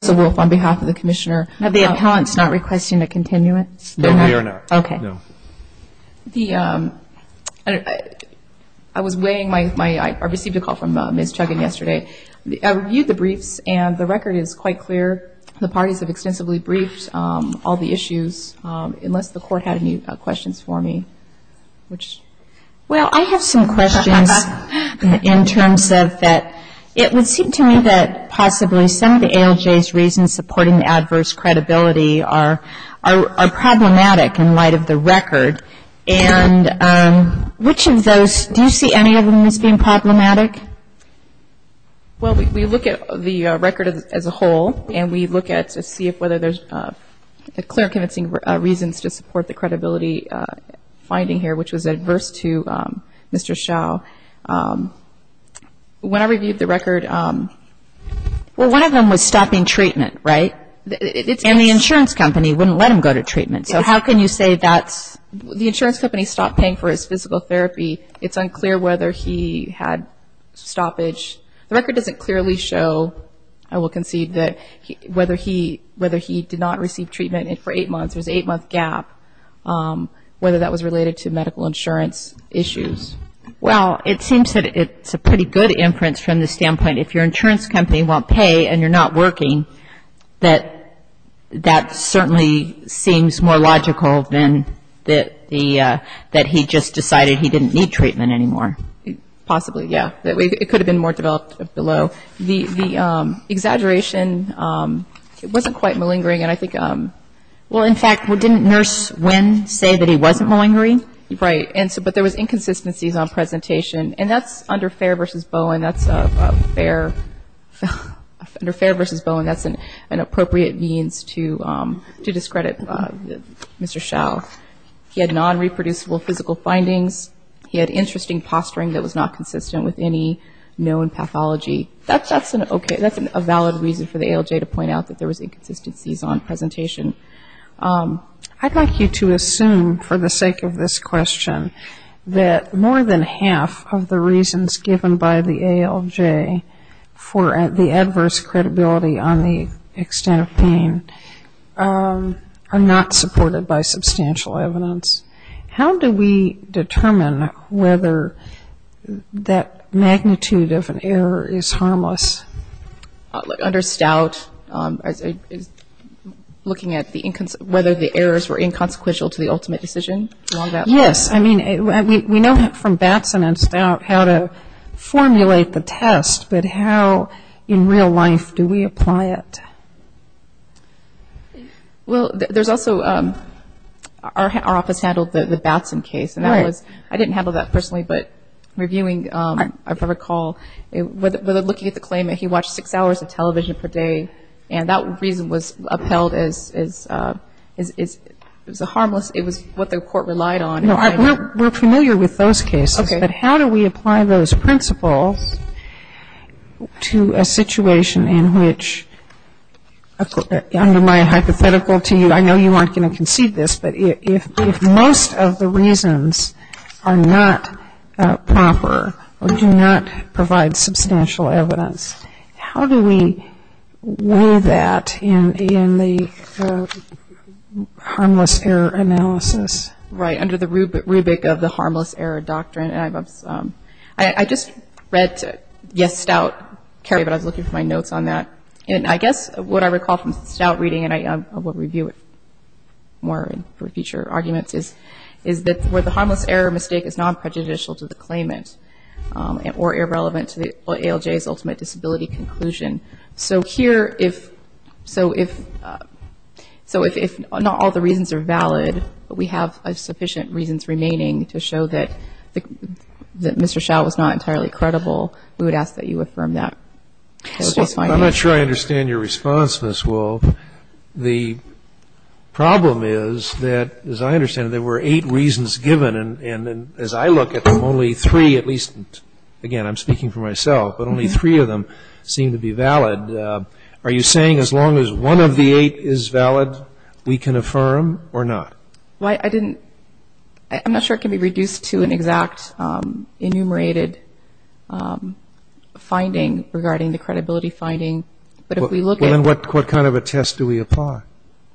I received a call from Ms. Chuggin yesterday. I reviewed the briefs and the record is quite clear. The parties have extensively briefed all the issues, unless the court had any questions for me. Well, I have some questions in terms of that it would seem to me that possibly some of the ALJ's reasons supporting the adverse credibility are problematic in light of the record. And which of those, do you see any of them as being problematic? Well, we look at the record as a whole and we look at to see if whether there's clear convincing reasons to support the credibility finding here, which was adverse to Mr. Schow. When I reviewed the record... Well, one of them was stopping treatment, right? And the insurance company wouldn't let him go to treatment. So how can you say that's... The insurance company stopped paying for his physical therapy. It's unclear whether he had stoppage. The record doesn't clearly show, I will concede, that whether he did not receive treatment for eight months, there's an eight month gap, whether that was related to medical insurance issues. Well, it seems that it's a pretty good inference from the standpoint if your insurance company won't pay and you're not working, that that certainly seems more logical than that he just decided he didn't need treatment anymore. Possibly, yeah. It could have been more developed below. The exaggeration, it wasn't quite malingering. And I think, well, in fact, didn't Nurse Wynn say that he wasn't malingering? Right. But there was inconsistencies on presentation. And that's under Fair v. Bowen, that's a fair, under Fair v. Bowen, that's an appropriate means to discredit Mr. Schow. He had non-reproducible physical findings. He had interesting posturing that was not consistent with any known pathology. That's a valid reason for the ALJ to point out that there was inconsistencies on presentation. I'd like you to assume for the sake of this question that more than half of the reasons given by the ALJ for the adverse credibility on the extent of pain are not supported by substantial evidence. How do we determine whether that magnitude of an error is harmless? Under Stout, looking at whether the errors were inconsequential to the ultimate decision? Yes. I mean, we know from Batson and Stout how to formulate the test, but how in real life do we apply it? Well, there's also, our office handled the Batson case. Right. And that was, I didn't handle that personally, but reviewing, if I recall, looking at the claim that he watched six hours of television per day, and that reason was upheld as harmless. It was what the court relied on. We're familiar with those cases, but how do we apply those principles to a situation in which, under my hypothetical to you, I know you aren't going to concede this, but if most of the reasons are not proper or do not provide substantial evidence, how do we weigh that in the harmless error analysis? Right, under the rubric of the harmless error doctrine. I just read, yes, Stout, but I was looking for my notes on that. And I guess what I recall from Stout reading, and I will review it more for future arguments, is that where the harmless error mistake is non-prejudicial to the claimant or irrelevant to the ALJ's ultimate disability conclusion. So here, if, so if, so if not all the reasons are valid, but we have sufficient reasons remaining to show that Mr. Schall was not entirely credible, we would ask that you affirm that. I'm not sure I understand your response, Ms. Wolff. The problem is that, as I understand it, there were eight reasons given, and as I look at them, only three, at least, again, I'm speaking for myself, but only three of them seem to be valid. Are you saying as long as one of the eight is valid, we can affirm or not? Why, I didn't, I'm not sure it can be reduced to an exact enumerated finding regarding the credibility finding, but if we look at Well, then what kind of a test do we apply?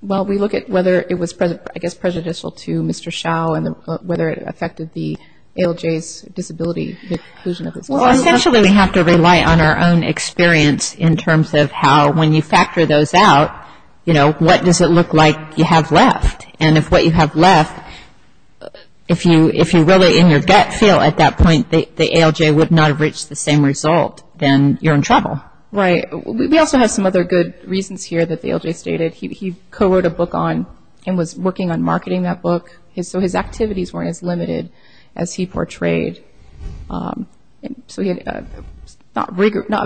Well, we look at whether it was, I guess, prejudicial to Mr. Schall and whether it affected the ALJ's disability conclusion. Well, essentially we have to rely on our own experience in terms of how, when you factor those out, you know, what does it look like you have left? And if what you have left, if you really in your gut feel at that point the ALJ would not have reached the same result, then you're in trouble. Right. We also have some other good reasons here that the ALJ stated. He co-wrote a book on and was working on marketing that book. So his activities weren't as limited as he portrayed. So he had not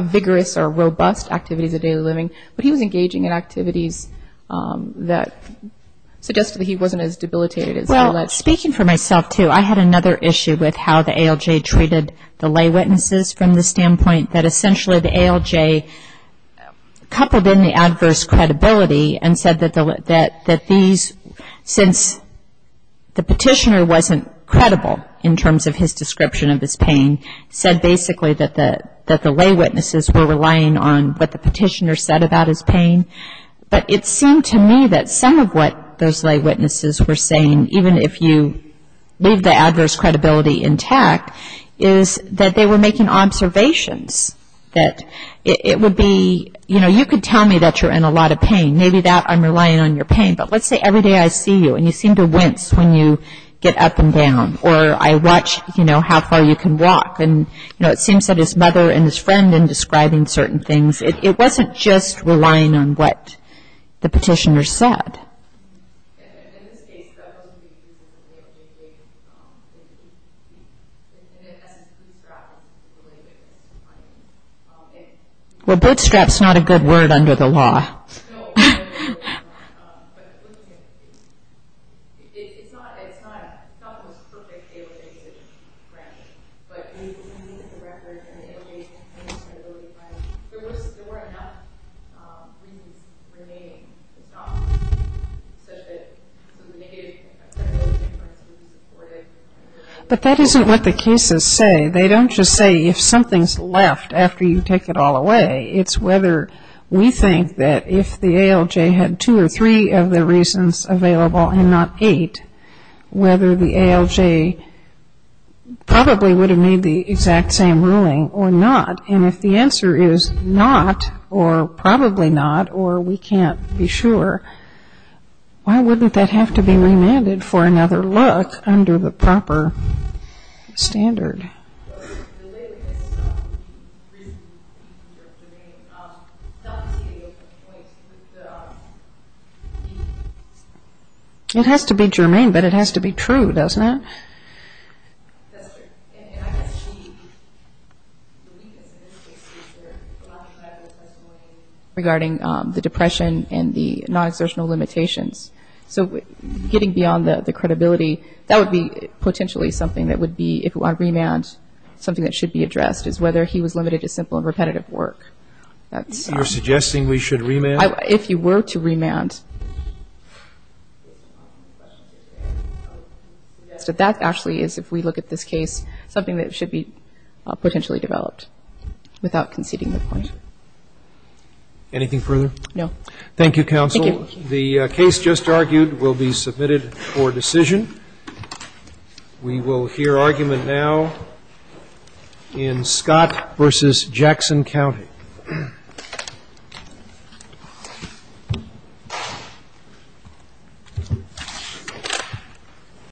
vigorous or robust activities of daily living, but he was engaging in activities that suggested that he wasn't as debilitated. Well, speaking for myself, too, I had another issue with how the ALJ treated the lay witnesses from the standpoint that essentially the ALJ coupled in the adverse credibility and said that these, since the petitioner wasn't credible in terms of his description of his pain, said basically that the lay witnesses were relying on what the petitioner said about his pain. But it seemed to me that some of what those lay witnesses were saying, even if you leave the adverse credibility intact, is that they were making observations that it would be, you know, you could tell me that you're in a lot of pain. Maybe that I'm relying on your pain. But let's say every day I see you and you seem to wince when you get up and down or I watch, you know, how far you can walk. And, you know, it seems that his mother and his friend in describing certain things, it wasn't just relying on what the petitioner said. In this case, that wasn't being used in the ALJ case. And in essence, bootstrap was related to this finding. Well, bootstrap's not a good word under the law. No, no, no, no. But looking at the case, it's not the most perfect ALJ decision, granted. But looking at the record and the ALJ's pain and credibility finding, there were enough reasons remaining. It's not such a negative thing. But that isn't what the cases say. They don't just say if something's left after you take it all away. It's whether we think that if the ALJ had two or three of the reasons available and not eight, whether the ALJ probably would have made the exact same ruling or not. And if the answer is not or probably not or we can't be sure, why wouldn't that have to be remanded for another look under the proper standard? Okay. It has to be germane, but it has to be true, doesn't it? That's true. And I guess the weakness in this case is their non-trivial testimony regarding the depression and the non-exertional limitations. So getting beyond the credibility, that would be potentially something that would be, if you want to remand, something that should be addressed, is whether he was limited to simple and repetitive work. You're suggesting we should remand? If you were to remand. So that actually is, if we look at this case, something that should be potentially developed without conceding the point. Anything further? No. Thank you, counsel. Thank you. The case just argued will be submitted for decision. We will hear argument now in Scott v. Jackson County.